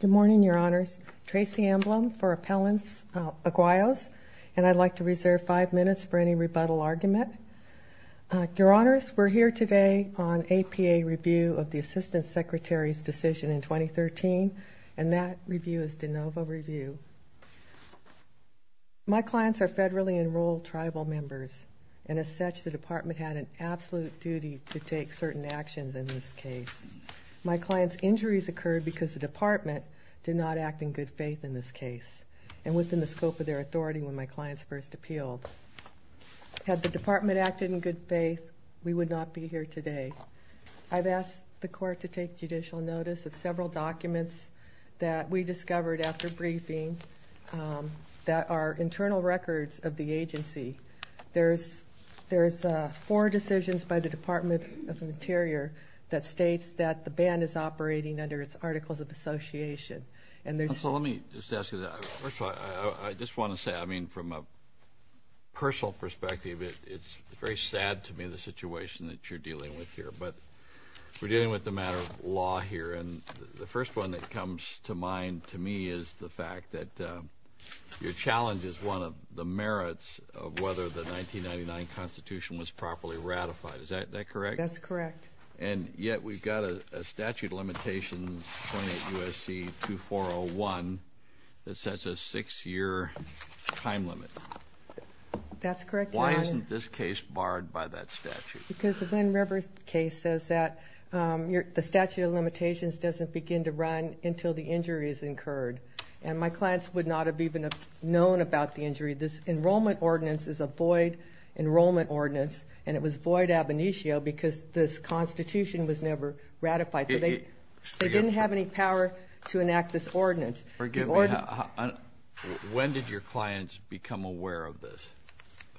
Good morning, Your Honors. Tracy Amblom for Appellants Aguayos and I'd like to reserve five minutes for any rebuttal argument. Your Honors, we're here today on APA review of the Assistant Secretary's decision in 2013 and that review is de novo review. My clients are federally enrolled tribal members and as such the department had an absolute duty to take certain actions in this case. My client's injuries occurred because the department did not act in good faith in this case and within the scope of their authority when my clients first appealed. Had the department acted in good faith, we would not be here today. I've asked the court to take judicial notice of several documents that we discovered after briefing that are internal records of the agency. There's four decisions by the Department of Interior that states that the band is operating under its Articles of Association and there's So let me just ask you that. First of all, I just want to say, I mean, from a personal perspective, it's very sad to me the situation that you're dealing with here. But we're dealing with the matter of law here and the first one that comes to mind to me is the fact that your challenge is one of the merits of whether the 1999 Constitution was properly ratified. Is that correct? That's correct. And yet we've got a statute limitation, 28 U.S.C. 2401, that sets a six-year time limit. That's correct, Your Honor. Why isn't this case barred by that statute? Because the Glenn Rivers case says that the statute of limitations doesn't begin to run until the injury is incurred. And my clients would not have even known about the injury. This enrollment ordinance is a void enrollment ordinance and it was void ab initio because this Constitution was never ratified. So they didn't have any power to enact this ordinance. When did your clients become aware of this?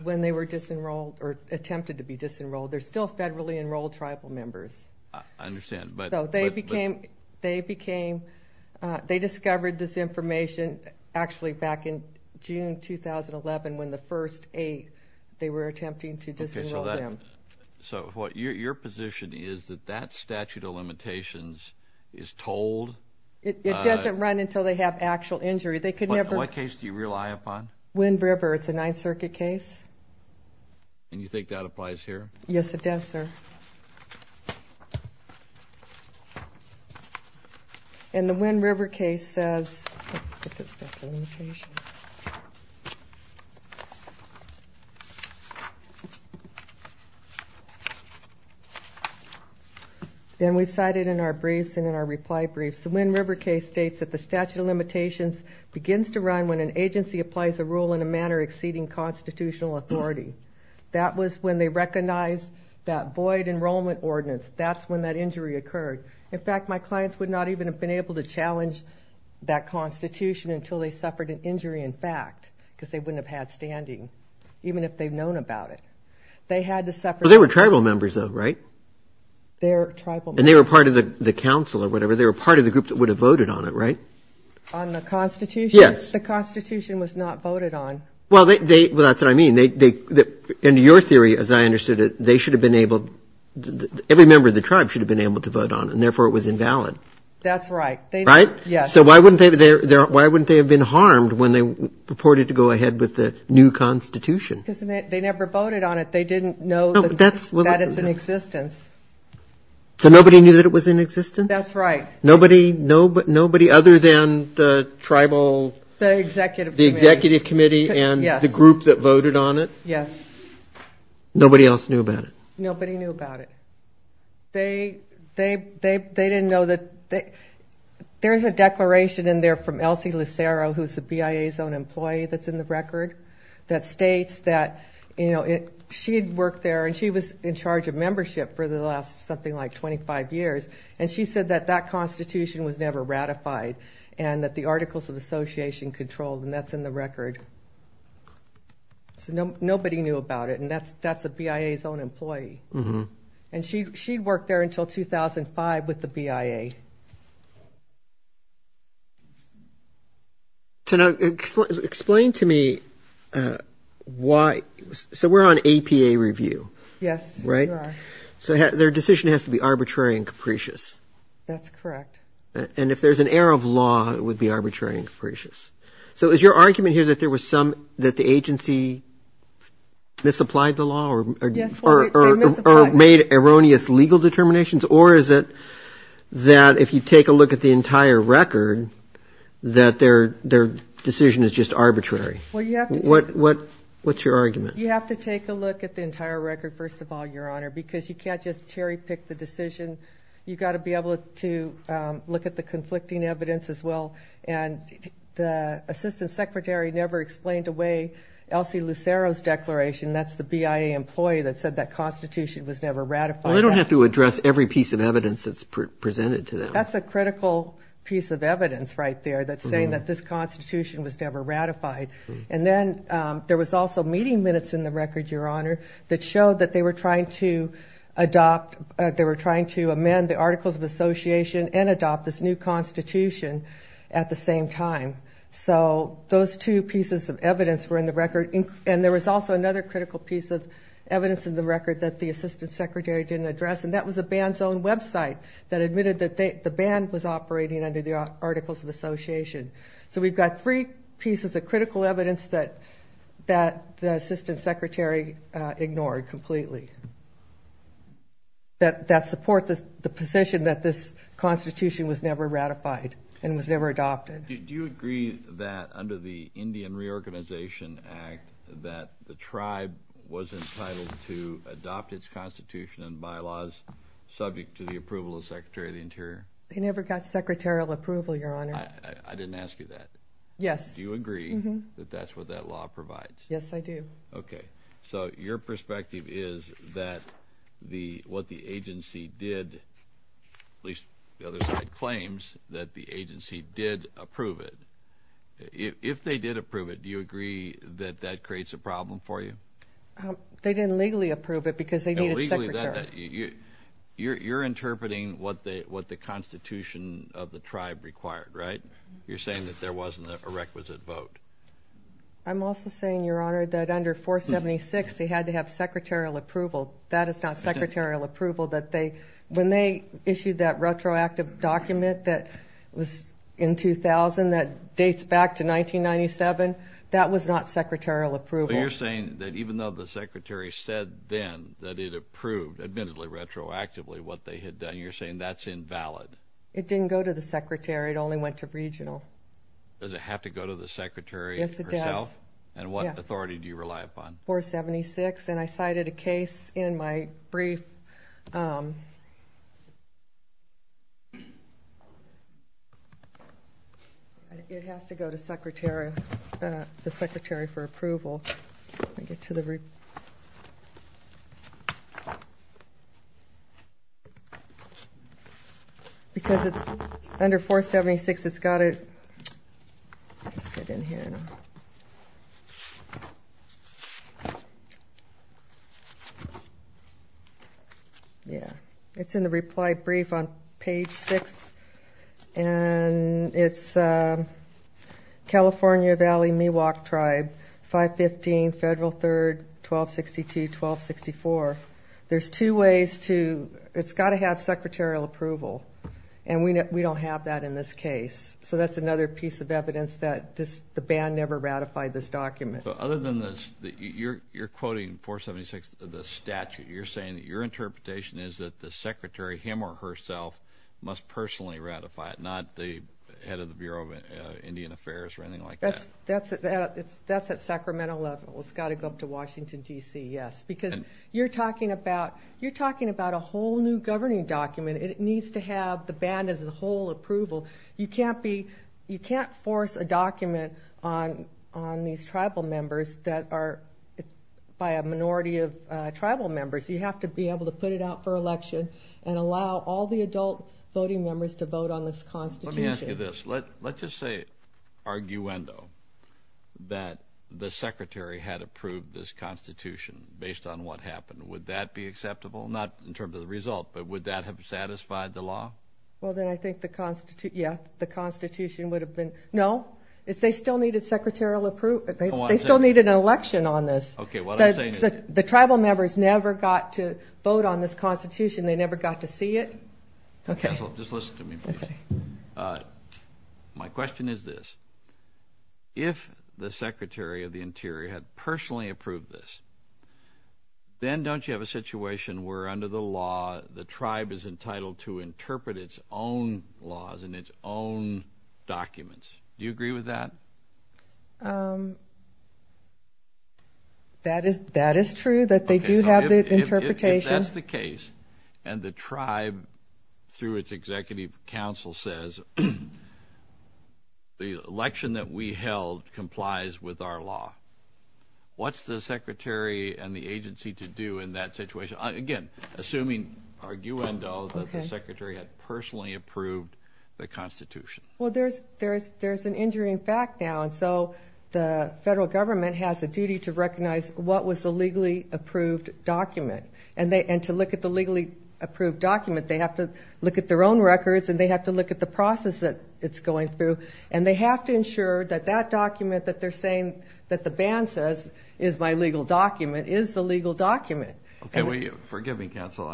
When they were disenrolled or attempted to be disenrolled. They're still federally enrolled tribal members. I understand. So they became they discovered this information actually back in June 2011 when the first eight, they were attempting to disenroll them. So your position is that that statute of limitations is told? It doesn't run until they have actual injury. What case do you rely upon? Glenn River. It's a Ninth Circuit case. And you think that applies here? Yes, it does, sir. And the Glenn River case says, let's get to the statute of limitations. Then we cite it in our briefs and in our reply briefs. The Glenn River case states that the statute of limitations begins to run when an agency applies a rule in a manner exceeding constitutional authority. That was when they recognized that void enrollment ordinance. That's when that injury occurred. In fact, my clients would not even have been able to challenge that Constitution until they suffered an injury in fact because they wouldn't have had standing, even if they'd known about it. They had to suffer. They were tribal members though, right? They were tribal members. And they were part of the council or whatever. They were part of the group that would have voted on it, right? On the Constitution? Yes. The Constitution was not voted on. Well, that's what I mean. In your theory, as I understood it, they should have been able to ‑‑ every member of the tribe should have been able to vote on it, and therefore it was invalid. That's right. Right? Yes. So why wouldn't they have been harmed when they purported to go ahead with the new Constitution? Because they never voted on it. They didn't know that it's in existence. So nobody knew that it was in existence? That's right. Nobody other than the tribal ‑‑ The executive committee. The executive committee and the group that voted on it? Yes. Nobody else knew about it? Nobody knew about it. They didn't know that ‑‑ there's a declaration in there from Elsie Lucero, who's the BIA's own employee that's in the record, that states that she had worked there and she was in charge of membership for the last something like 25 years, and she said that that Constitution was never ratified and that the Articles of Association controlled, and that's in the record. So nobody knew about it, and that's the BIA's own employee. And she worked there until 2005 with the BIA. Tana, explain to me why ‑‑ so we're on APA review, right? Yes, we are. So their decision has to be arbitrary and capricious. That's correct. And if there's an error of law, it would be arbitrary and capricious. So is your argument here that there was some ‑‑ that the agency misapplied the law or made erroneous legal determinations, or is it that if you take a look at the entire record, that their decision is just arbitrary? Well, you have to ‑‑ What's your argument? You have to take a look at the entire record, first of all, Your Honor, because you can't just cherry pick the decision. You've got to be able to look at the conflicting evidence as well, and the Assistant Secretary never explained away Elsie Lucero's declaration. That's the BIA employee that said that Constitution was never ratified. Well, they don't have to address every piece of evidence that's presented to them. That's a critical piece of evidence right there that's saying that this Constitution was never ratified. And then there was also meeting minutes in the record, Your Honor, that showed that they were trying to adopt ‑‑ they were trying to amend the Articles of Association and adopt this new Constitution at the same time. So those two pieces of evidence were in the record, and there was also another critical piece of evidence in the record that the Assistant Secretary didn't address, and that was the band's own website that admitted that the band was operating under the Articles of Association. So we've got three pieces of critical evidence that the Assistant Secretary ignored completely that support the position that this Constitution was never ratified and was never adopted. Do you agree that under the Indian Reorganization Act that the tribe was entitled to adopt its Constitution and bylaws subject to the approval of the Secretary of the Interior? They never got secretarial approval, Your Honor. I didn't ask you that. Yes. Do you agree that that's what that law provides? Yes, I do. Okay. So your perspective is that what the agency did, at least the other side claims, that the agency did approve it. If they did approve it, do you agree that that creates a problem for you? They didn't legally approve it because they needed a secretary. You're interpreting what the Constitution of the tribe required, right? You're saying that there wasn't a requisite vote. I'm also saying, Your Honor, that under 476 they had to have secretarial approval. That is not secretarial approval. When they issued that retroactive document that was in 2000 that dates back to 1997, that was not secretarial approval. You're saying that even though the Secretary said then that it approved, admittedly retroactively, what they had done, you're saying that's invalid? It didn't go to the Secretary. It only went to regional. Does it have to go to the Secretary herself? Yes, it does. And what authority do you rely upon? 476. And I cited a case in my brief. It has to go to the Secretary for approval. Let me get to the... Because under 476 it's got to... Let's get in here. Yeah, it's in the reply brief on page 6. And it's California Valley Miwok Tribe, 515 Federal 3rd, 1262, 1264. There's two ways to... It's got to have secretarial approval, and we don't have that in this case. So that's another piece of evidence that the ban never ratified this document. You're quoting 476, the statute. You're saying that your interpretation is that the Secretary, him or herself, must personally ratify it, not the head of the Bureau of Indian Affairs or anything like that. That's at Sacramento level. It's got to go up to Washington, D.C., yes. Because you're talking about a whole new governing document. It needs to have the ban as a whole approval. You can't force a document on these tribal members that are by a minority of tribal members. You have to be able to put it out for election and allow all the adult voting members to vote on this Constitution. Let me ask you this. Let's just say, arguendo, that the Secretary had approved this Constitution based on what happened. Would that be acceptable? Not in terms of the result, but would that have satisfied the law? Well, then I think the Constitution would have been no. They still needed an election on this. The tribal members never got to vote on this Constitution. They never got to see it. Just listen to me, please. My question is this. If the Secretary of the Interior had personally approved this, then don't you have a situation where, under the law, the tribe is entitled to interpret its own laws and its own documents? Do you agree with that? That is true, that they do have the interpretation. If that's the case, and the tribe, through its Executive Council, says the election that we held complies with our law, what's the Secretary and the agency to do in that situation? Again, assuming, arguendo, that the Secretary had personally approved the Constitution. Well, there's an injury in fact now, and so the federal government has a duty to recognize what was the legally approved document. And to look at the legally approved document, they have to look at their own records, and they have to look at the process that it's going through. And they have to ensure that that document that they're saying that the ban says is my legal document is the legal document. Okay, well, forgive me, Counsel.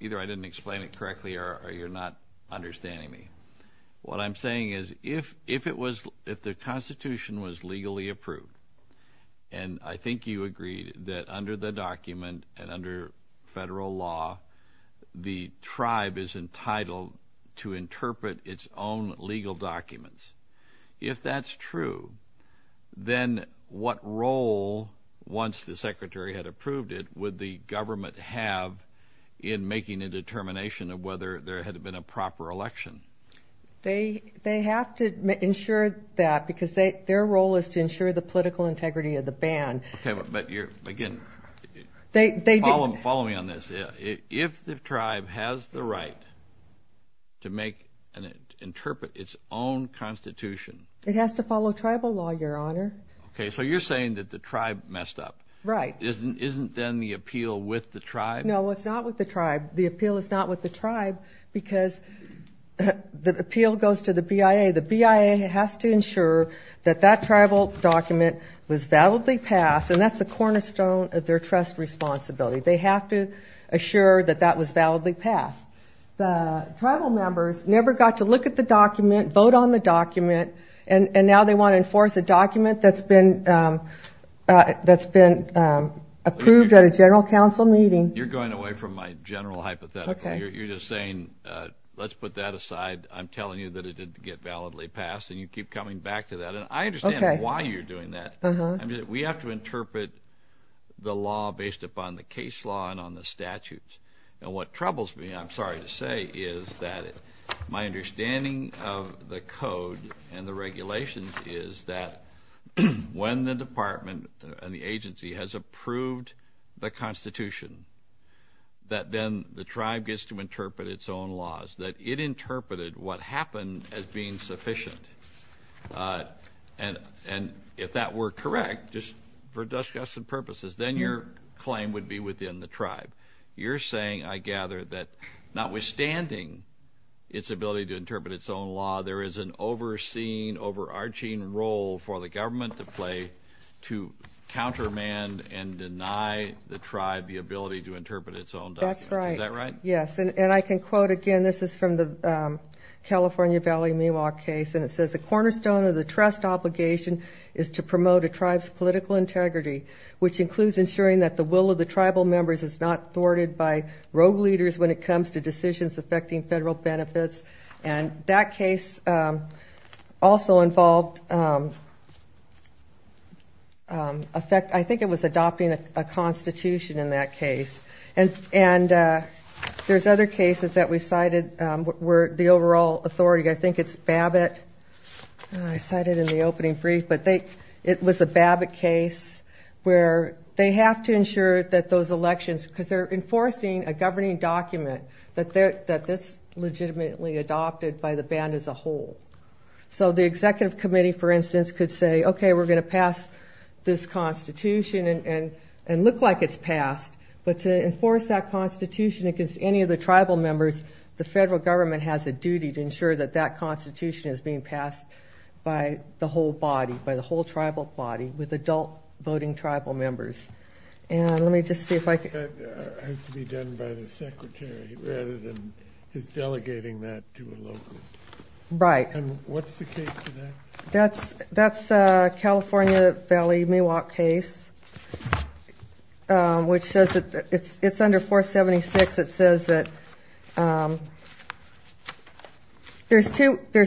Either I didn't explain it correctly or you're not understanding me. What I'm saying is if the Constitution was legally approved, and I think you agreed that under the document and under federal law, the tribe is entitled to interpret its own legal documents. If that's true, then what role, once the Secretary had approved it, would the government have in making a determination of whether there had been a proper election? They have to ensure that because their role is to ensure the political integrity of the ban. Okay, but again, follow me on this. If the tribe has the right to make and interpret its own Constitution. It has to follow tribal law, Your Honor. Okay, so you're saying that the tribe messed up. Right. Isn't then the appeal with the tribe? No, it's not with the tribe. The appeal is not with the tribe because the appeal goes to the BIA. The BIA has to ensure that that tribal document was validly passed, and that's the cornerstone of their trust responsibility. They have to assure that that was validly passed. The tribal members never got to look at the document, vote on the document, and now they want to enforce a document that's been approved at a general council meeting. You're going away from my general hypothetical. You're just saying, let's put that aside. I'm telling you that it didn't get validly passed, and you keep coming back to that. And I understand why you're doing that. We have to interpret the law based upon the case law and on the statutes. And what troubles me, I'm sorry to say, is that my understanding of the code and the regulations is that when the department and the agency has approved the Constitution, that then the tribe gets to interpret its own laws, that it interpreted what happened as being sufficient. And if that were correct, just for discussion purposes, then your claim would be within the tribe. You're saying, I gather, that notwithstanding its ability to interpret its own law, there is an overseen, overarching role for the government to play to countermand and deny the tribe the ability to interpret its own documents. Is that right? Yes. And I can quote again. This is from the California Valley Miwok case, and it says, the cornerstone of the trust obligation is to promote a tribe's political integrity, which includes ensuring that the will of the tribal members is not thwarted by rogue leaders when it comes to decisions affecting federal benefits. And that case also involved, I think it was adopting a Constitution in that case. And there's other cases that we cited where the overall authority, I think it's Babbitt, I cited in the opening brief, but it was a Babbitt case where they have to ensure that those elections, because they're enforcing a governing document that's legitimately adopted by the band as a whole. So the executive committee, for instance, could say, okay, we're going to pass this Constitution and look like it's passed, but to enforce that Constitution against any of the tribal members, the federal government has a duty to ensure that that Constitution is being passed by the whole body, by the whole tribal body, with adult voting tribal members. And let me just see if I can. That has to be done by the secretary rather than his delegating that to a local. Right. And what's the case for that? That's California Valley Miwok case, which says that it's under 476. It says that there's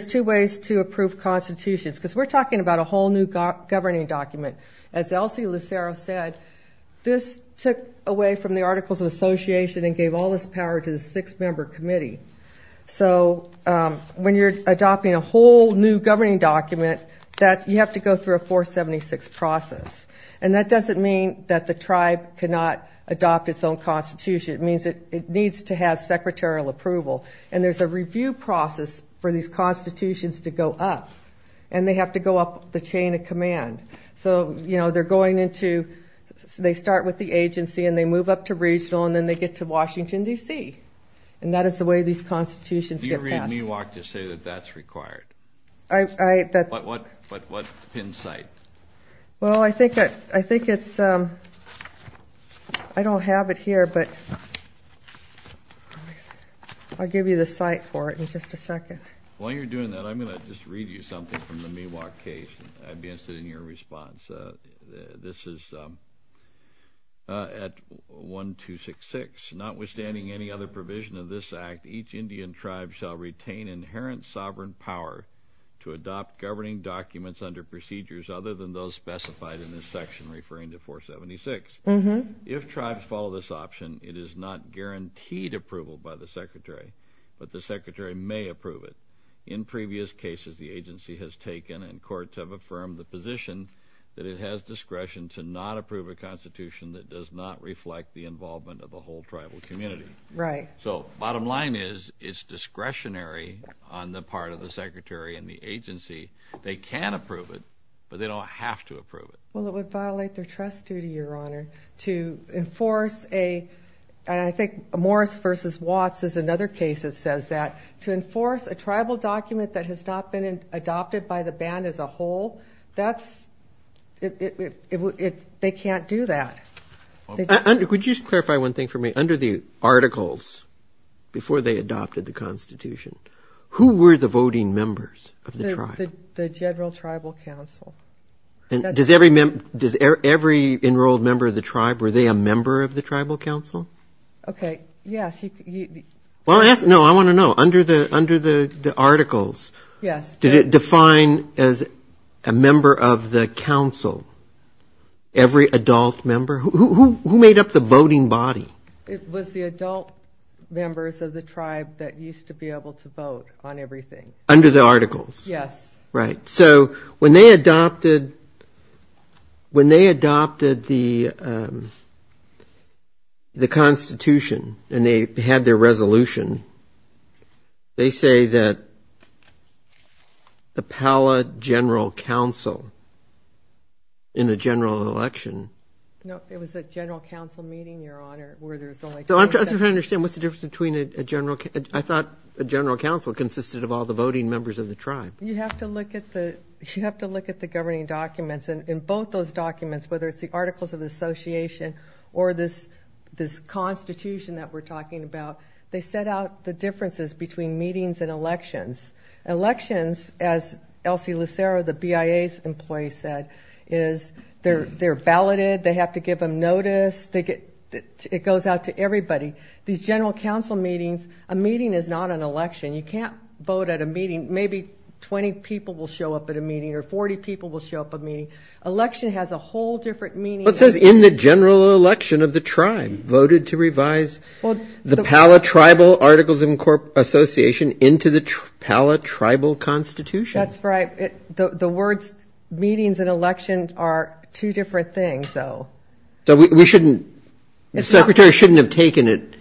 two ways to approve constitutions, because we're talking about a whole new governing document. As Elsie Lucero said, this took away from the Articles of Association and gave all this power to the six-member committee. So when you're adopting a whole new governing document, you have to go through a 476 process, and that doesn't mean that the tribe cannot adopt its own constitution. It means it needs to have secretarial approval, and there's a review process for these constitutions to go up, and they have to go up the chain of command. So they start with the agency, and they move up to regional, and then they get to Washington, D.C., and that is the way these constitutions get passed. Do you read Miwok to say that that's required? What pin site? Well, I think it's ‑‑ I don't have it here, but I'll give you the site for it in just a second. While you're doing that, I'm going to just read you something from the Miwok case. I'd be interested in your response. This is at 1266. Notwithstanding any other provision of this act, each Indian tribe shall retain inherent sovereign power to adopt governing documents under procedures other than those specified in this section referring to 476. If tribes follow this option, it is not guaranteed approval by the secretary, but the secretary may approve it. In previous cases, the agency has taken and courts have affirmed the position that it has discretion to not approve a constitution that does not reflect the involvement of the whole tribal community. Right. So bottom line is it's discretionary on the part of the secretary and the agency. They can approve it, but they don't have to approve it. Well, it would violate their trust duty, Your Honor, to enforce a ‑‑ and I think Morris v. Watts is another case that says that to enforce a tribal document that has not been adopted by the band as a whole, that's ‑‑ they can't do that. Could you just clarify one thing for me? Under the articles before they adopted the constitution, who were the voting members of the tribe? The general tribal council. Does every enrolled member of the tribe, were they a member of the tribal council? Okay, yes. No, I want to know. Under the articles, did it define as a member of the council every adult member? Who made up the voting body? It was the adult members of the tribe that used to be able to vote on everything. Under the articles? Yes. Right. So when they adopted the constitution and they had their resolution, they say that the Pala general council in the general election. No, it was a general council meeting, Your Honor, where there was only ‑‑ I'm just trying to understand what's the difference between a general ‑‑ I thought a general council consisted of all the voting members of the tribe. You have to look at the governing documents. In both those documents, whether it's the articles of the association or this constitution that we're talking about, they set out the differences between meetings and elections. Elections, as Elsie Lucero, the BIA's employee said, is they're validated. They have to give them notice. It goes out to everybody. These general council meetings, a meeting is not an election. You can't vote at a meeting. Maybe 20 people will show up at a meeting or 40 people will show up at a meeting. Election has a whole different meaning. It says in the general election of the tribe voted to revise the Pala tribal articles and association into the Pala tribal constitution. That's right. The words meetings and elections are two different things, though. So we shouldn't ‑‑ the secretary shouldn't have taken it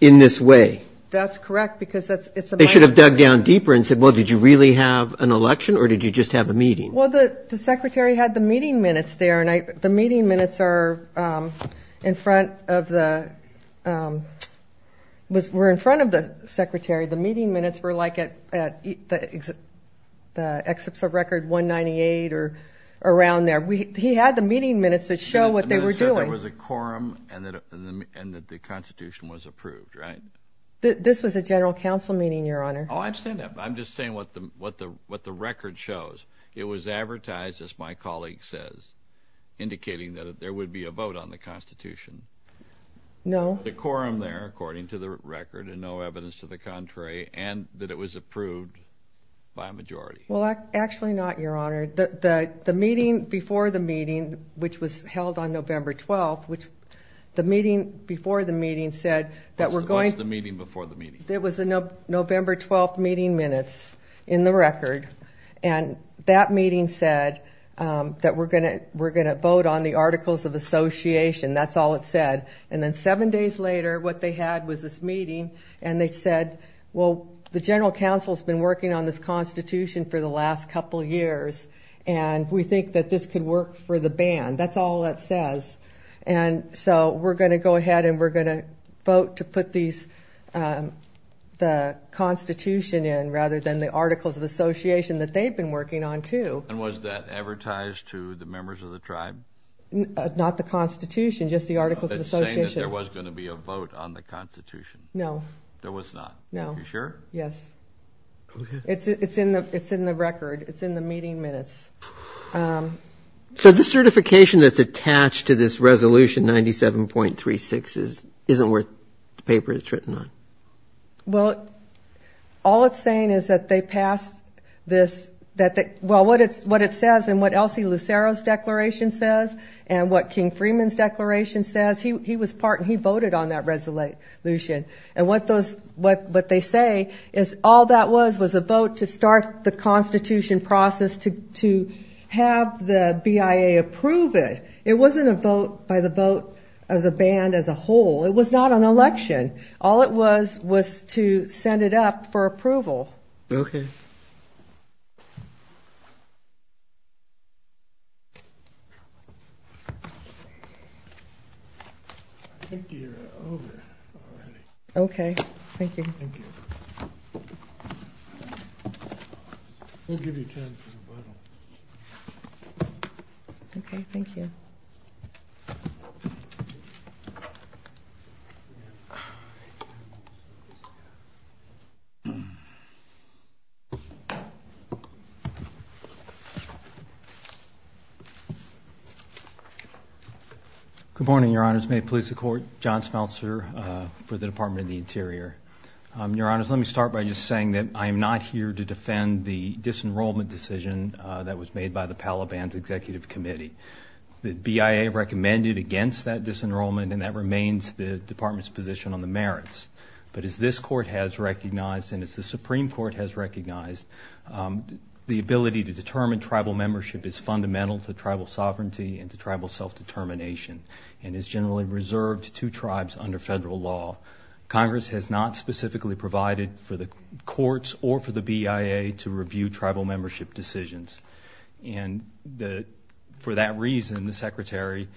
in this way. That's correct because it's a ‑‑ They should have dug down deeper and said, well, did you really have an election or did you just have a meeting? Well, the secretary had the meeting minutes there, and the meeting minutes are in front of the ‑‑ were in front of the secretary. The meeting minutes were, like, at the excerpts of record 198 or around there. He had the meeting minutes that show what they were doing. He said there was a quorum and that the constitution was approved, right? This was a general council meeting, Your Honor. Oh, I understand that, but I'm just saying what the record shows. It was advertised, as my colleague says, indicating that there would be a vote on the constitution. No. The quorum there, according to the record, and no evidence to the contrary, and that it was approved by a majority. Well, actually not, Your Honor. The meeting before the meeting, which was held on November 12th, which the meeting before the meeting said that we're going to ‑‑ What was the meeting before the meeting? It was the November 12th meeting minutes in the record, and that meeting said that we're going to vote on the articles of association. That's all it said. And then seven days later, what they had was this meeting, and they said, well, the general council has been working on this constitution for the last couple of years, and we think that this could work for the ban. That's all that says. And so we're going to go ahead and we're going to vote to put the constitution in rather than the articles of association that they've been working on too. And was that advertised to the members of the tribe? Not the constitution, just the articles of association. It's saying that there was going to be a vote on the constitution. No. There was not. No. Are you sure? Yes. Okay. It's in the record. It's in the meeting minutes. So the certification that's attached to this resolution 97.36 isn't worth the paper it's written on? Well, all it's saying is that they passed this ‑‑ well, what it says and what Elsie Lucero's declaration says and what King Freeman's declaration says, he was part and he voted on that resolution. And what they say is all that was was a vote to start the constitution process to have the BIA approve it. It wasn't a vote by the vote of the band as a whole. It was not an election. All it was was to send it up for approval. Okay. I think you're over already. Okay. Thank you. Thank you. We'll give you time for rebuttal. Okay. Thank you. Thank you. Good morning, Your Honors. May it please the Court. John Smeltzer for the Department of the Interior. Your Honors, let me start by just saying that I am not here to defend the disenrollment decision that was made by the Palabans Executive Committee. The BIA recommended against that disenrollment and that remains the Department's position on the merits. But as this Court has recognized and as the Supreme Court has recognized, the ability to determine tribal membership is fundamental to tribal sovereignty and to tribal self‑determination and is generally reserved to tribes under federal law. Congress has not specifically provided for the courts or for the BIA to review tribal membership decisions. And for that reason, the Secretary,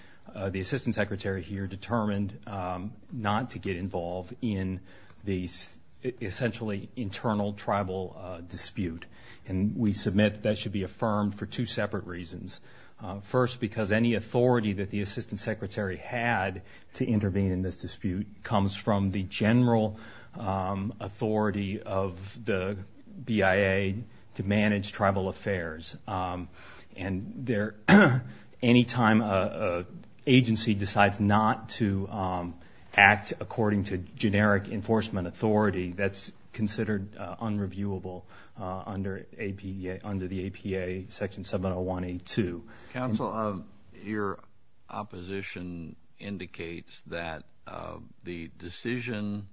the Assistant Secretary here, determined not to get involved in the essentially internal tribal dispute. And we submit that should be affirmed for two separate reasons. First, because any authority that the Assistant Secretary had to intervene in this dispute comes from the general authority of the BIA to manage tribal affairs. And any time an agency decides not to act according to generic enforcement authority, that's considered unreviewable under the APA Section 701A2. Counsel, your opposition indicates that the decision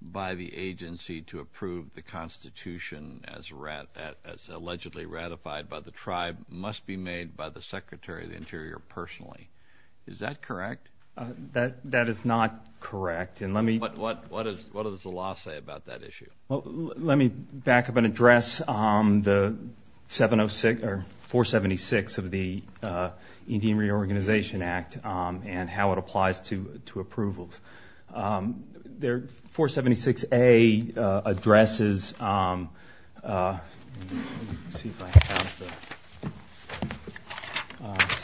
by the agency to approve the Constitution as allegedly ratified by the tribe must be made by the Secretary of the Interior personally. Is that correct? That is not correct. What does the law say about that issue? Let me back up and address the 476 of the Indian Reorganization Act and how it applies to approvals. The 476A addresses, let me see if I have the,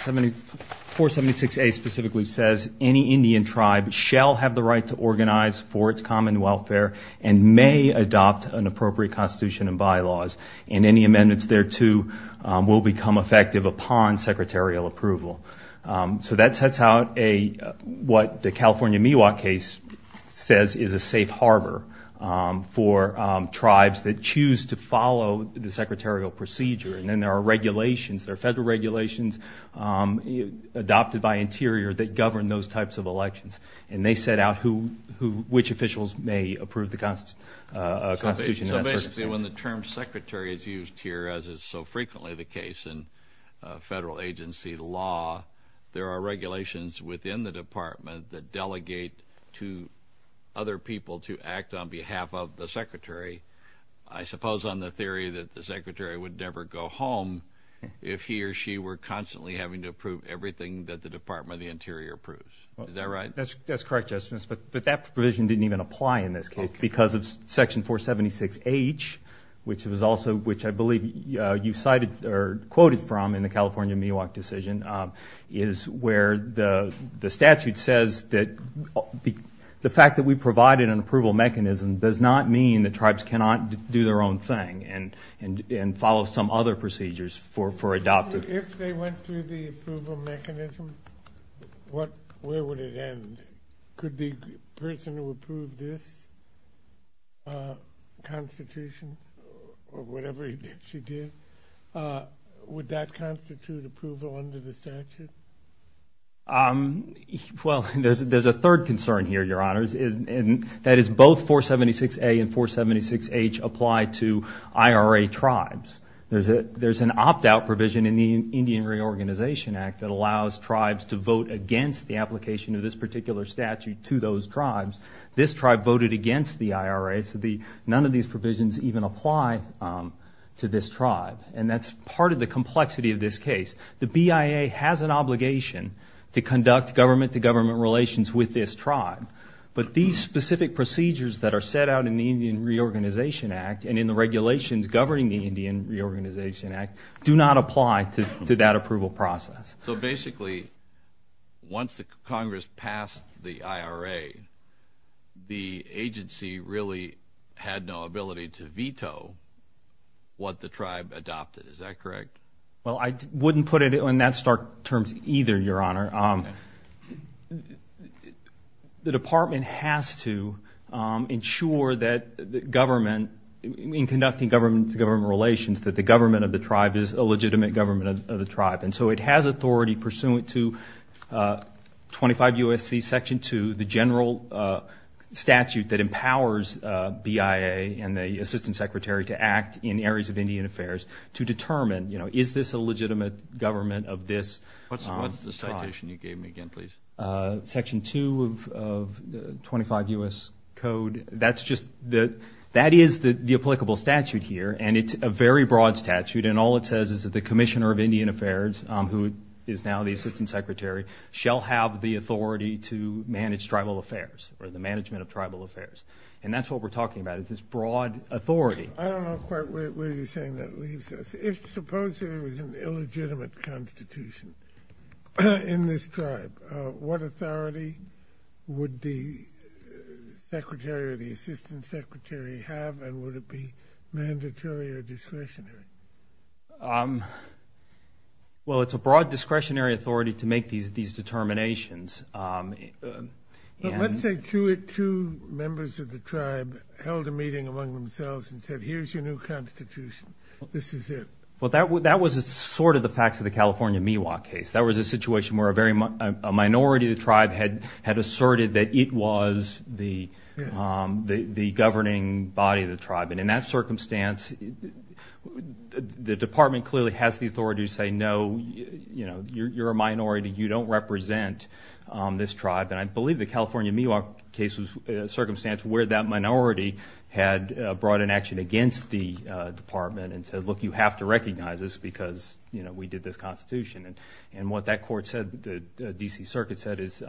476A specifically says, any Indian tribe shall have the right to organize for its common welfare and may adopt an appropriate constitution and bylaws. And any amendments thereto will become effective upon secretarial approval. So that sets out what the California Miwok case says is a safe harbor for tribes that choose to follow the secretarial procedure. And then there are regulations, there are federal regulations adopted by Interior that govern those types of elections. And they set out which officials may approve the Constitution in those circumstances. So basically when the term Secretary is used here, as is so frequently the case in federal agency law, there are regulations within the department that delegate to other people to act on behalf of the Secretary. I suppose on the theory that the Secretary would never go home if he or she were constantly having to approve everything that the Department of the Interior approves. Is that right? That's correct, Justice, but that provision didn't even apply in this case because of Section 476H, which I believe you cited or quoted from in the California Miwok decision, is where the statute says that the fact that we provided an approval mechanism does not mean that tribes cannot do their own thing and follow some other procedures for adopting. If they went through the approval mechanism, where would it end? Could the person who approved this Constitution or whatever it is she did, would that constitute approval under the statute? Well, there's a third concern here, Your Honors, and that is both 476A and 476H apply to IRA tribes. There's an opt-out provision in the Indian Reorganization Act that allows tribes to vote against the application of this particular statute to those tribes. This tribe voted against the IRA, so none of these provisions even apply to this tribe, and that's part of the complexity of this case. The BIA has an obligation to conduct government-to-government relations with this tribe, but these specific procedures that are set out in the Indian Reorganization Act and in the regulations governing the Indian Reorganization Act do not apply to that approval process. So basically, once Congress passed the IRA, the agency really had no ability to veto what the tribe adopted, is that correct? Well, I wouldn't put it in that stark terms either, Your Honor. The department has to ensure that the government, in conducting government-to-government relations, that the government of the tribe is a legitimate government of the tribe. And so it has authority pursuant to 25 U.S.C. Section 2, the general statute that empowers BIA and the assistant secretary to act in areas of Indian affairs to determine, you know, is this a legitimate government of this tribe? What's the citation you gave me again, please? Section 2 of 25 U.S. Code, that is the applicable statute here, and it's a very broad statute, and all it says is that the commissioner of Indian affairs, who is now the assistant secretary, shall have the authority to manage tribal affairs or the management of tribal affairs. And that's what we're talking about is this broad authority. I don't know quite where you're saying that leaves us. If supposedly there was an illegitimate constitution in this tribe, what authority would the secretary or the assistant secretary have, and would it be mandatory or discretionary? Well, it's a broad discretionary authority to make these determinations. Let's say two members of the tribe held a meeting among themselves and said here's your new constitution, this is it. Well, that was sort of the facts of the California Miwok case. That was a situation where a minority of the tribe had asserted that it was the governing body of the tribe, and in that circumstance the department clearly has the authority to say, no, you know, you're a minority, you don't represent this tribe, and I believe the California Miwok case was a circumstance where that minority had brought an action against the department and said, look, you have to recognize this because, you know, we did this constitution. And what that court said, the D.C. Circuit said is,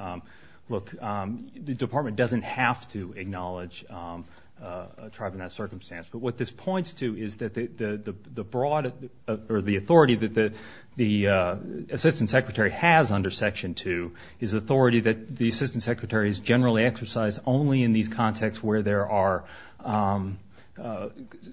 look, the department doesn't have to acknowledge a tribe in that circumstance. But what this points to is that the broad or the authority that the assistant secretary has under Section 2 is authority that the assistant secretary has generally exercised only in these contexts where there are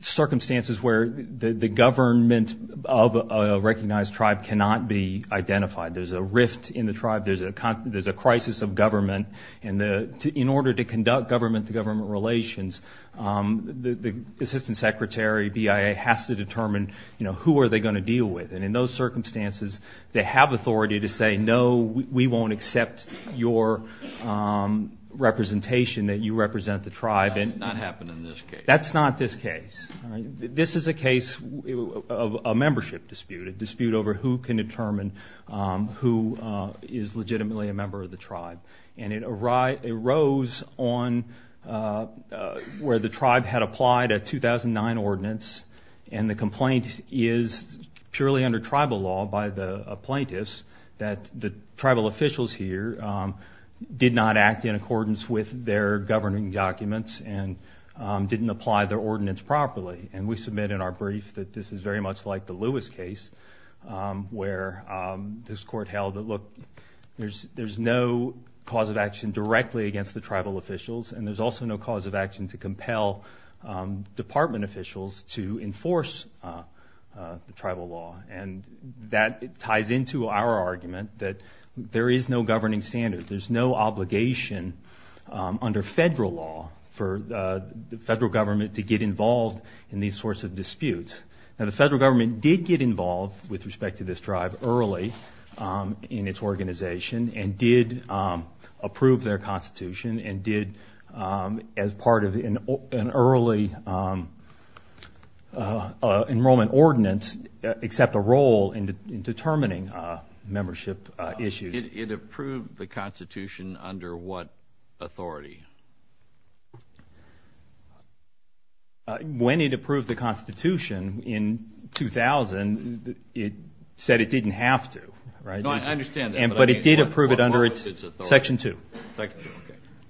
circumstances where the government of a recognized tribe cannot be identified. There's a rift in the tribe, there's a crisis of government, and in order to conduct government-to-government relations, the assistant secretary, BIA, has to determine, you know, who are they going to deal with. And in those circumstances, they have authority to say, no, we won't accept your representation, that you represent the tribe. That did not happen in this case. That's not this case. This is a case of a membership dispute, a dispute over who can determine who is legitimately a member of the tribe. And it arose on where the tribe had applied a 2009 ordinance, and the complaint is purely under tribal law by the plaintiffs, that the tribal officials here did not act in accordance with their governing documents and didn't apply their ordinance properly. And we submit in our brief that this is very much like the Lewis case, where this court held that, look, there's no cause of action directly against the tribal officials, and there's also no cause of action to compel department officials to enforce the tribal law. And that ties into our argument that there is no governing standard, there's no obligation under federal law for the federal government to get involved in these sorts of disputes. Now, the federal government did get involved with respect to this tribe early in its organization and did approve their constitution and did, as part of an early enrollment ordinance, accept a role in determining membership issues. It approved the constitution under what authority? When it approved the constitution in 2000, it said it didn't have to, right? No, I understand that. But it did approve it under section two.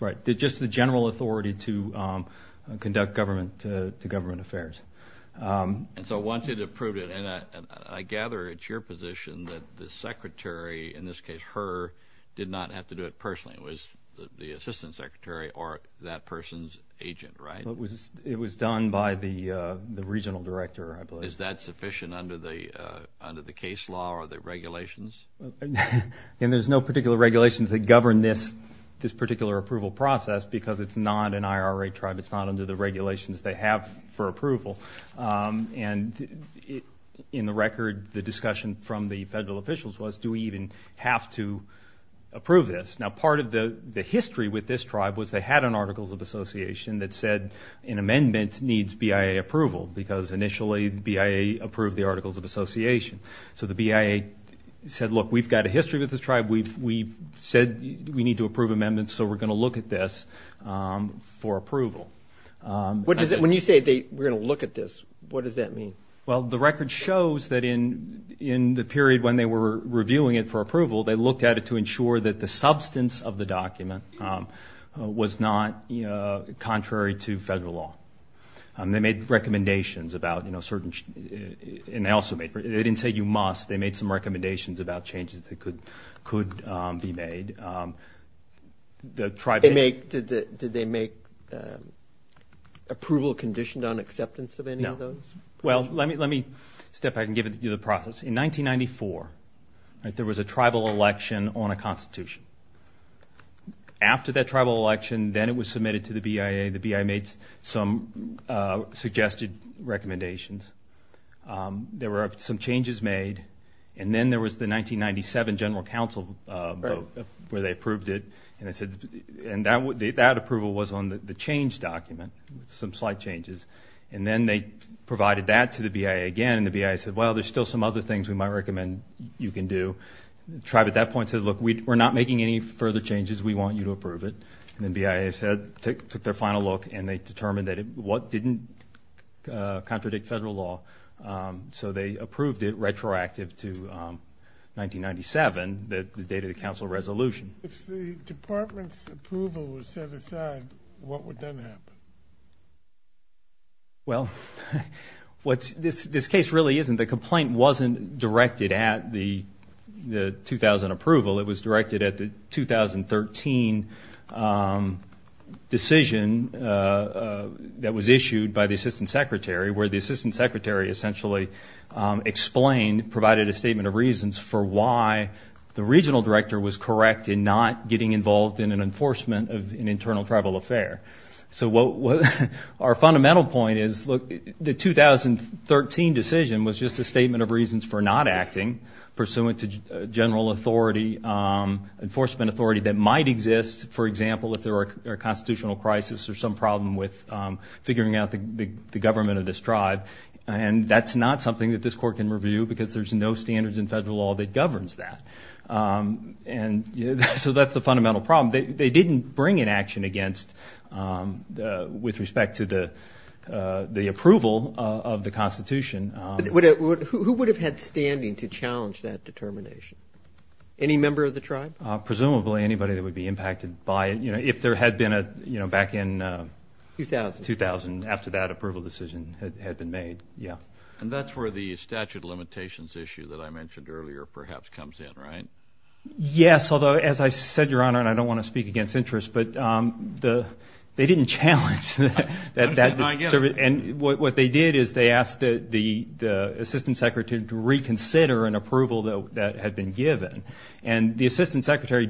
Right. Just the general authority to conduct government affairs. And so once it approved it, and I gather it's your position that the secretary, in this case her, did not have to do it personally. It was the assistant secretary or that person's agent, right? It was done by the regional director, I believe. Is that sufficient under the case law or the regulations? And there's no particular regulations that govern this particular approval process because it's not an IRA tribe, it's not under the regulations they have for approval. And in the record, the discussion from the federal officials was, do we even have to approve this? Now, part of the history with this tribe was they had an articles of association that said an amendment needs BIA approval because initially BIA approved the articles of association. So the BIA said, look, we've got a history with this tribe. We've said we need to approve amendments, so we're going to look at this for approval. When you say we're going to look at this, what does that mean? Well, the record shows that in the period when they were reviewing it for approval, they looked at it to ensure that the substance of the document was not contrary to federal law. They made recommendations about, you know, certain – and they also made – they didn't say you must. They made some recommendations about changes that could be made. Did they make approval conditioned on acceptance of any of those? No. Well, let me step back and give you the process. In 1994, there was a tribal election on a constitution. After that tribal election, then it was submitted to the BIA. The BIA made some suggested recommendations. There were some changes made, and then there was the 1997 general council vote where they approved it. And that approval was on the change document, some slight changes. And then they provided that to the BIA again, and the BIA said, well, there's still some other things we might recommend you can do. The tribe at that point said, look, we're not making any further changes. We want you to approve it. And then BIA took their final look, and they determined that it didn't contradict federal law. So they approved it retroactive to 1997, the date of the council resolution. If the department's approval was set aside, what would then happen? Well, this case really isn't. The complaint wasn't directed at the 2000 approval. It was directed at the 2013 decision that was issued by the assistant secretary, where the assistant secretary essentially explained, provided a statement of reasons for why the regional director was correct in not getting involved in an enforcement of an internal tribal affair. So our fundamental point is, look, the 2013 decision was just a statement of reasons for not acting, pursuant to general authority, enforcement authority that might exist, for example, if there were a constitutional crisis or some problem with figuring out the government of this tribe. And that's not something that this court can review because there's no standards in federal law that governs that. And so that's the fundamental problem. They didn't bring an action against, with respect to the approval of the Constitution. Who would have had standing to challenge that determination? Any member of the tribe? Presumably anybody that would be impacted by it, you know, if there had been a, you know, back in 2000, after that approval decision had been made, yeah. And that's where the statute of limitations issue that I mentioned earlier perhaps comes in, right? Yes, although, as I said, Your Honor, and I don't want to speak against interest, but they didn't challenge that. And what they did is they asked the assistant secretary to reconsider an approval that had been given. And the assistant secretary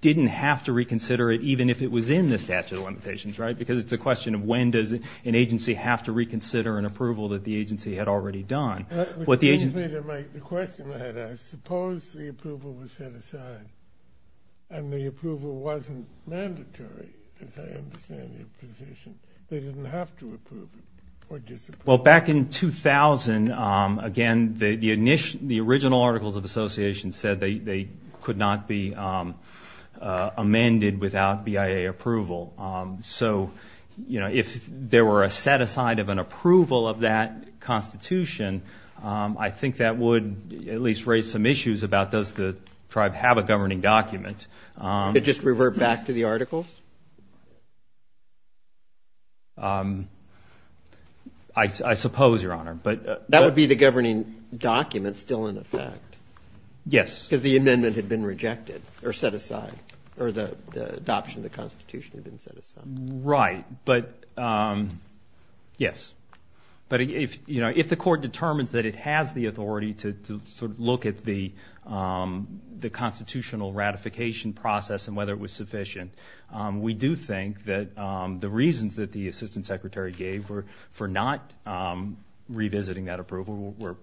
didn't have to reconsider it, even if it was in the statute of limitations, right? Because it's a question of when does an agency have to reconsider an approval that the agency had already done. The question I had asked, suppose the approval was set aside and the approval wasn't mandatory, as I understand your position, they didn't have to approve it or disapprove it. Well, back in 2000, again, the original Articles of Association said they could not be amended without BIA approval. So, you know, if there were a set aside of an approval of that constitution, I think that would at least raise some issues about does the tribe have a governing document. Could it just revert back to the articles? I suppose, Your Honor. That would be the governing document still in effect. Yes. Because the amendment had been rejected or set aside or the adoption of the constitution had been set aside. Right. But, yes. But, you know, if the court determines that it has the authority to sort of look at the constitutional ratification process and whether it was sufficient, we do think that the reasons that the assistant secretary gave for not revisiting that approval were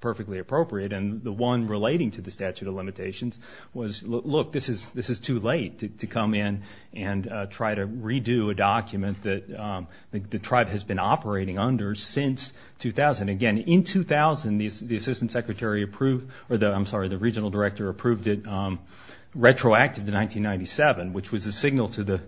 perfectly appropriate. And the one relating to the statute of limitations was, look, this is too late to come in and try to redo a document that the tribe has been operating under since 2000. Again, in 2000, the regional director approved it retroactively in 1997, which was a signal to the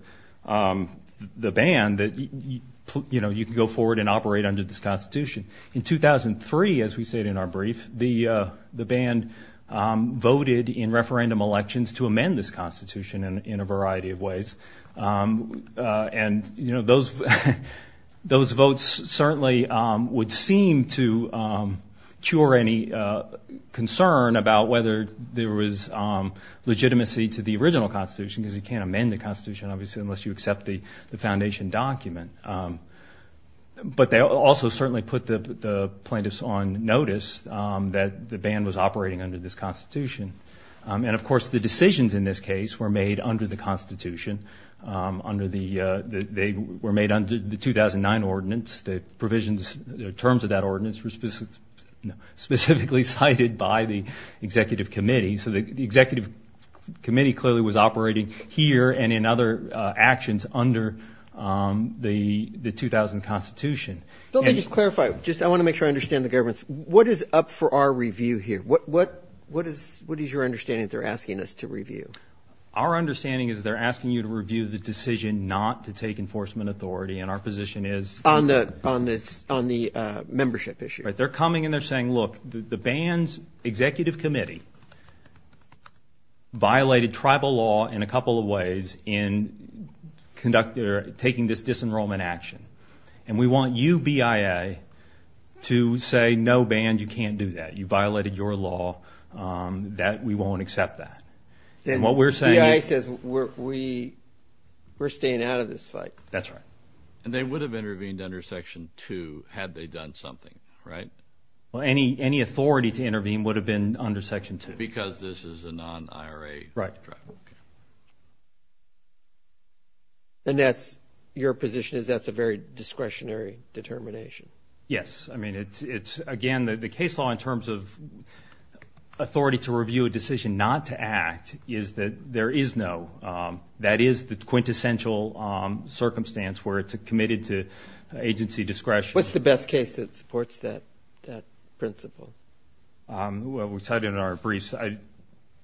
band that, you know, you can go forward and operate under this constitution. In 2003, as we stated in our brief, the band voted in referendum elections to amend this constitution in a variety of ways. And, you know, those votes certainly would seem to cure any concern about whether there was legitimacy to the original constitution because you can't amend the constitution, obviously, unless you accept the foundation document. But they also certainly put the plaintiffs on notice that the band was operating under this constitution. And, of course, the decisions in this case were made under the constitution. They were made under the 2009 ordinance. The provisions, the terms of that ordinance were specifically cited by the executive committee. So the executive committee clearly was operating here and in other actions under the 2000 constitution. Let me just clarify. Just I want to make sure I understand the government. What is up for our review here? What is your understanding that they're asking us to review? Our understanding is they're asking you to review the decision not to take enforcement authority. And our position is... On the membership issue. They're coming and they're saying, look, the band's executive committee violated tribal law in a couple of ways in taking this disenrollment action. And we want you, BIA, to say, no, band, you can't do that. You violated your law. We won't accept that. And what we're saying is... BIA says we're staying out of this fight. That's right. And they would have intervened under Section 2 had they done something, right? Well, any authority to intervene would have been under Section 2. Because this is a non-IRA tribe. Right. And your position is that's a very discretionary determination? Yes. I mean, again, the case law in terms of authority to review a decision not to act is that there is no... It's a case where it's committed to agency discretion. What's the best case that supports that principle? Well, we cited it in our briefs.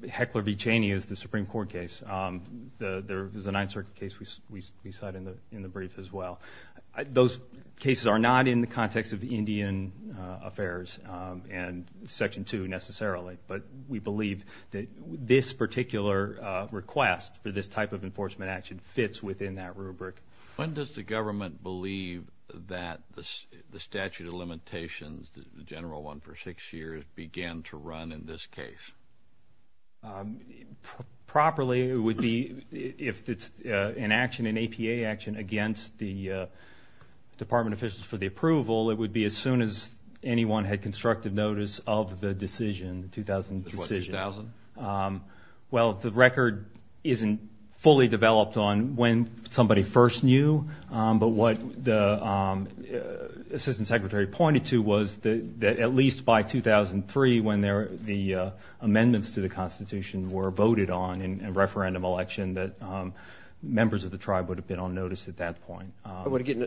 Heckler v. Cheney is the Supreme Court case. There was a Ninth Circuit case we cited in the brief as well. Those cases are not in the context of Indian affairs and Section 2 necessarily. But we believe that this particular request for this type of enforcement action fits within that rubric. When does the government believe that the statute of limitations, the general one for six years, began to run in this case? Properly, it would be if it's an action, an APA action, against the department officials for the approval, it would be as soon as anyone had constructed notice of the decision, the 2000 decision. The 2000? Well, the record isn't fully developed on when somebody first knew. But what the assistant secretary pointed to was that at least by 2003, when the amendments to the Constitution were voted on in referendum election, that members of the tribe would have been on notice at that point.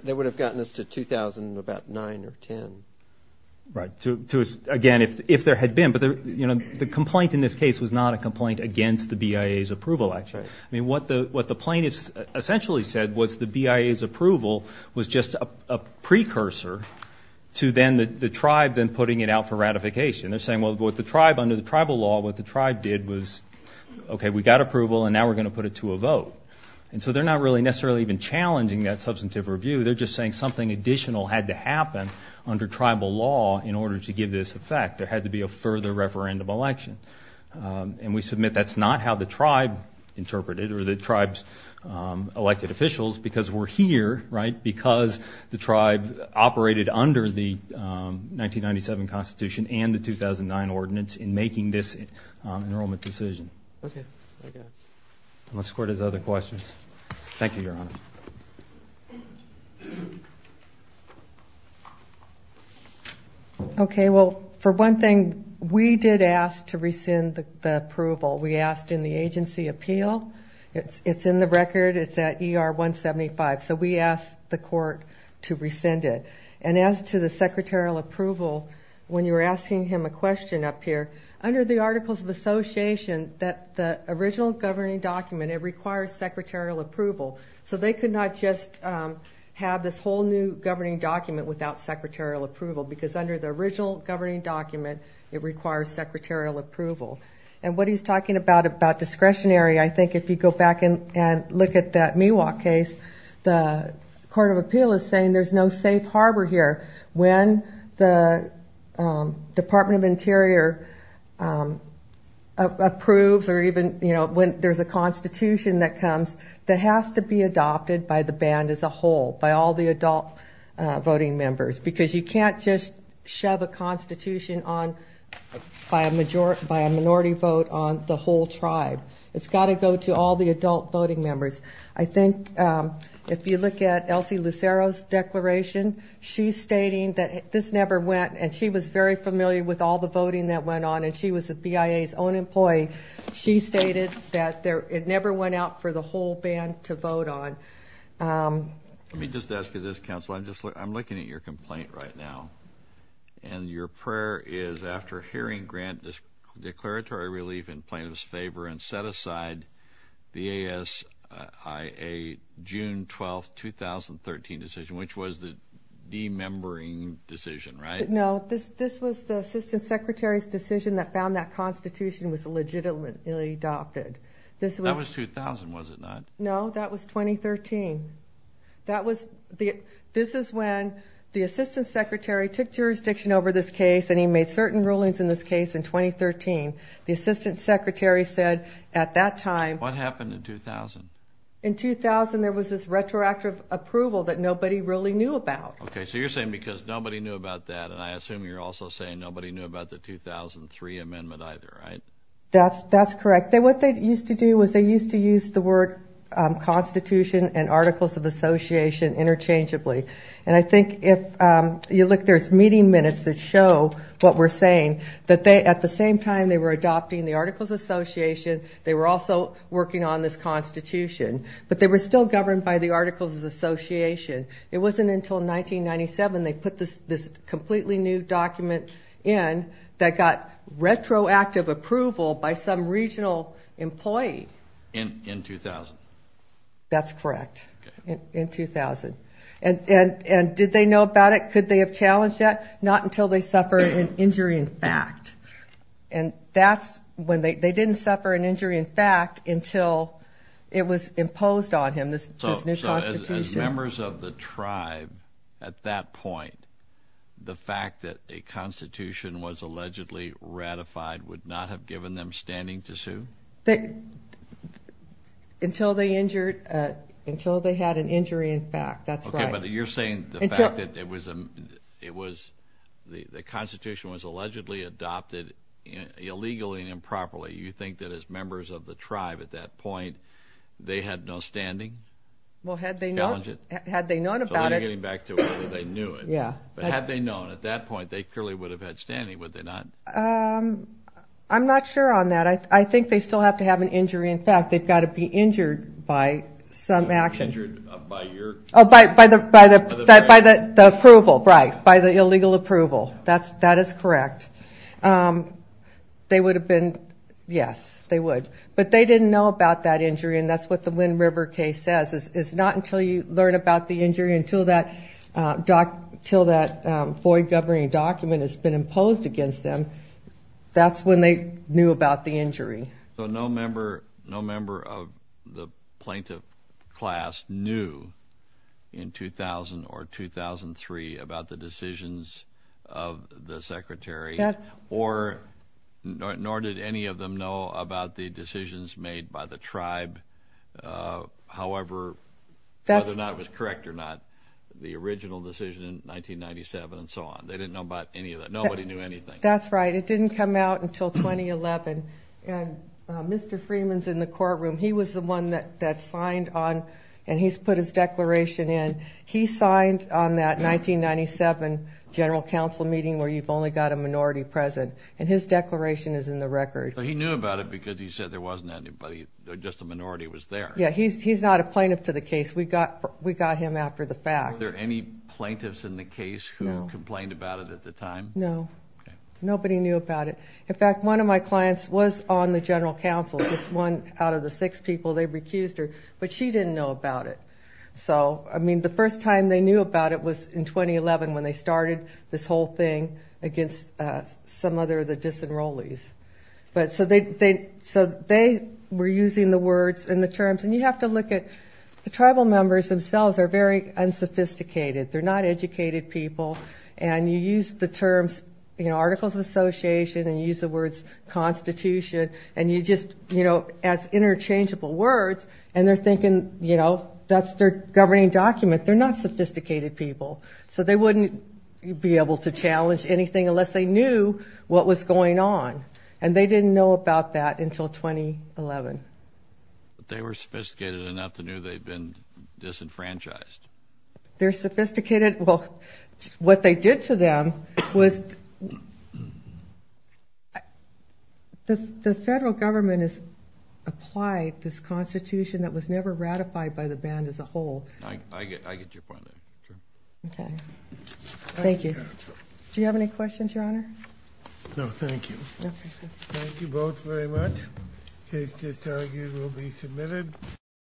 They would have gotten us to 2000 in about 9 or 10. Right. Again, if there had been. But the complaint in this case was not a complaint against the BIA's approval action. I mean, what the plaintiffs essentially said was the BIA's approval was just a precursor to then the tribe then putting it out for ratification. They're saying, well, what the tribe, under the tribal law, what the tribe did was, okay, we got approval and now we're going to put it to a vote. And so they're not really necessarily even challenging that substantive review. They're just saying something additional had to happen under tribal law in order to give this effect. There had to be a further referendum election. And we submit that's not how the tribe interpreted it or the tribe's elected officials because we're here, right, because the tribe operated under the 1997 Constitution and the 2009 ordinance in making this enrollment decision. Okay. Unless the Court has other questions. Thank you, Your Honor. Okay. Well, for one thing, we did ask to rescind the approval. We asked in the agency appeal. It's in the record. It's at ER 175. So we asked the Court to rescind it. And as to the secretarial approval, when you were asking him a question up here, under the Articles of Association, the original governing document, it requires secretarial approval. So they could not just have this whole new governing document without secretarial approval because under the original governing document, it requires secretarial approval. And what he's talking about, about discretionary, I think if you go back and look at that Miwok case, the Court of Appeal is saying there's no safe harbor here. When the Department of Interior approves or even, you know, when there's a constitution that comes, that has to be adopted by the band as a whole, by all the adult voting members, because you can't just shove a constitution on by a minority vote on the whole tribe. It's got to go to all the adult voting members. I think if you look at Elsie Lucero's declaration, she's stating that this never went, and she was very familiar with all the voting that went on, and she was the BIA's own employee. She stated that it never went out for the whole band to vote on. Let me just ask you this, Counselor. I'm looking at your complaint right now, and your prayer is after hearing Grant's declaratory relief in plaintiff's favor and set aside the ASIA June 12, 2013 decision, which was the de-membering decision, right? No, this was the assistant secretary's decision that found that constitution was legitimately adopted. That was 2000, was it not? No, that was 2013. This is when the assistant secretary took jurisdiction over this case, and he made certain rulings in this case in 2013. The assistant secretary said at that time— What happened in 2000? In 2000, there was this retroactive approval that nobody really knew about. Okay, so you're saying because nobody knew about that, and I assume you're also saying nobody knew about the 2003 amendment either, right? That's correct. What they used to do was they used to use the word constitution and articles of association interchangeably. I think if you look, there's meeting minutes that show what we're saying, that at the same time they were adopting the articles of association, they were also working on this constitution, but they were still governed by the articles of association. It wasn't until 1997 they put this completely new document in that got retroactive approval by some regional employee. In 2000? That's correct, in 2000. Did they know about it? Could they have challenged that? Not until they suffered an injury in fact. They didn't suffer an injury in fact until it was imposed on him, this new constitution. As members of the tribe at that point, the fact that a constitution was allegedly ratified would not have given them standing to sue? Until they had an injury in fact, that's right. Okay, but you're saying the fact that the constitution was allegedly adopted illegally and improperly, you think that as members of the tribe at that point they had no standing? Well, had they known about it. So you're getting back to whether they knew it. Yeah. But had they known at that point, they clearly would have had standing, would they not? I'm not sure on that. I think they still have to have an injury in fact. They've got to be injured by some action. Injured by your? Oh, by the approval, right, by the illegal approval. That is correct. They would have been, yes, they would. But they didn't know about that injury, and that's what the Wind River case says. It's not until you learn about the injury, until that FOIA governing document has been imposed against them, that's when they knew about the injury. So no member of the plaintiff class knew in 2000 or 2003 about the decisions of the secretary, nor did any of them know about the decisions made by the tribe, however, whether or not it was correct or not, the original decision in 1997 and so on. They didn't know about any of that. Nobody knew anything. That's right. It didn't come out until 2011, and Mr. Freeman's in the courtroom. He was the one that signed on, and he's put his declaration in. He signed on that 1997 general counsel meeting where you've only got a minority present, and his declaration is in the record. He knew about it because he said there wasn't anybody, just a minority was there. Yeah, he's not a plaintiff to the case. We got him after the fact. Were there any plaintiffs in the case who complained about it at the time? No. Nobody knew about it. In fact, one of my clients was on the general counsel, just one out of the six people. They recused her, but she didn't know about it. So, I mean, the first time they knew about it was in 2011 when they started this whole thing against some other of the disenrollees. So they were using the words and the terms, and you have to look at the tribal members themselves are very unsophisticated. They're not educated people, and you use the terms, you know, articles of association, and you use the words constitution, and you just, you know, as interchangeable words, and they're thinking, you know, that's their governing document. They're not sophisticated people. So they wouldn't be able to challenge anything unless they knew what was going on, and they didn't know about that until 2011. They were sophisticated enough to know they'd been disenfranchised. They're sophisticated. Well, what they did to them was the federal government has applied this constitution that was never ratified by the band as a whole. I get your point. Okay. Thank you. Do you have any questions, Your Honor? No, thank you. Okay. Thank you both very much. The case just argued will be submitted.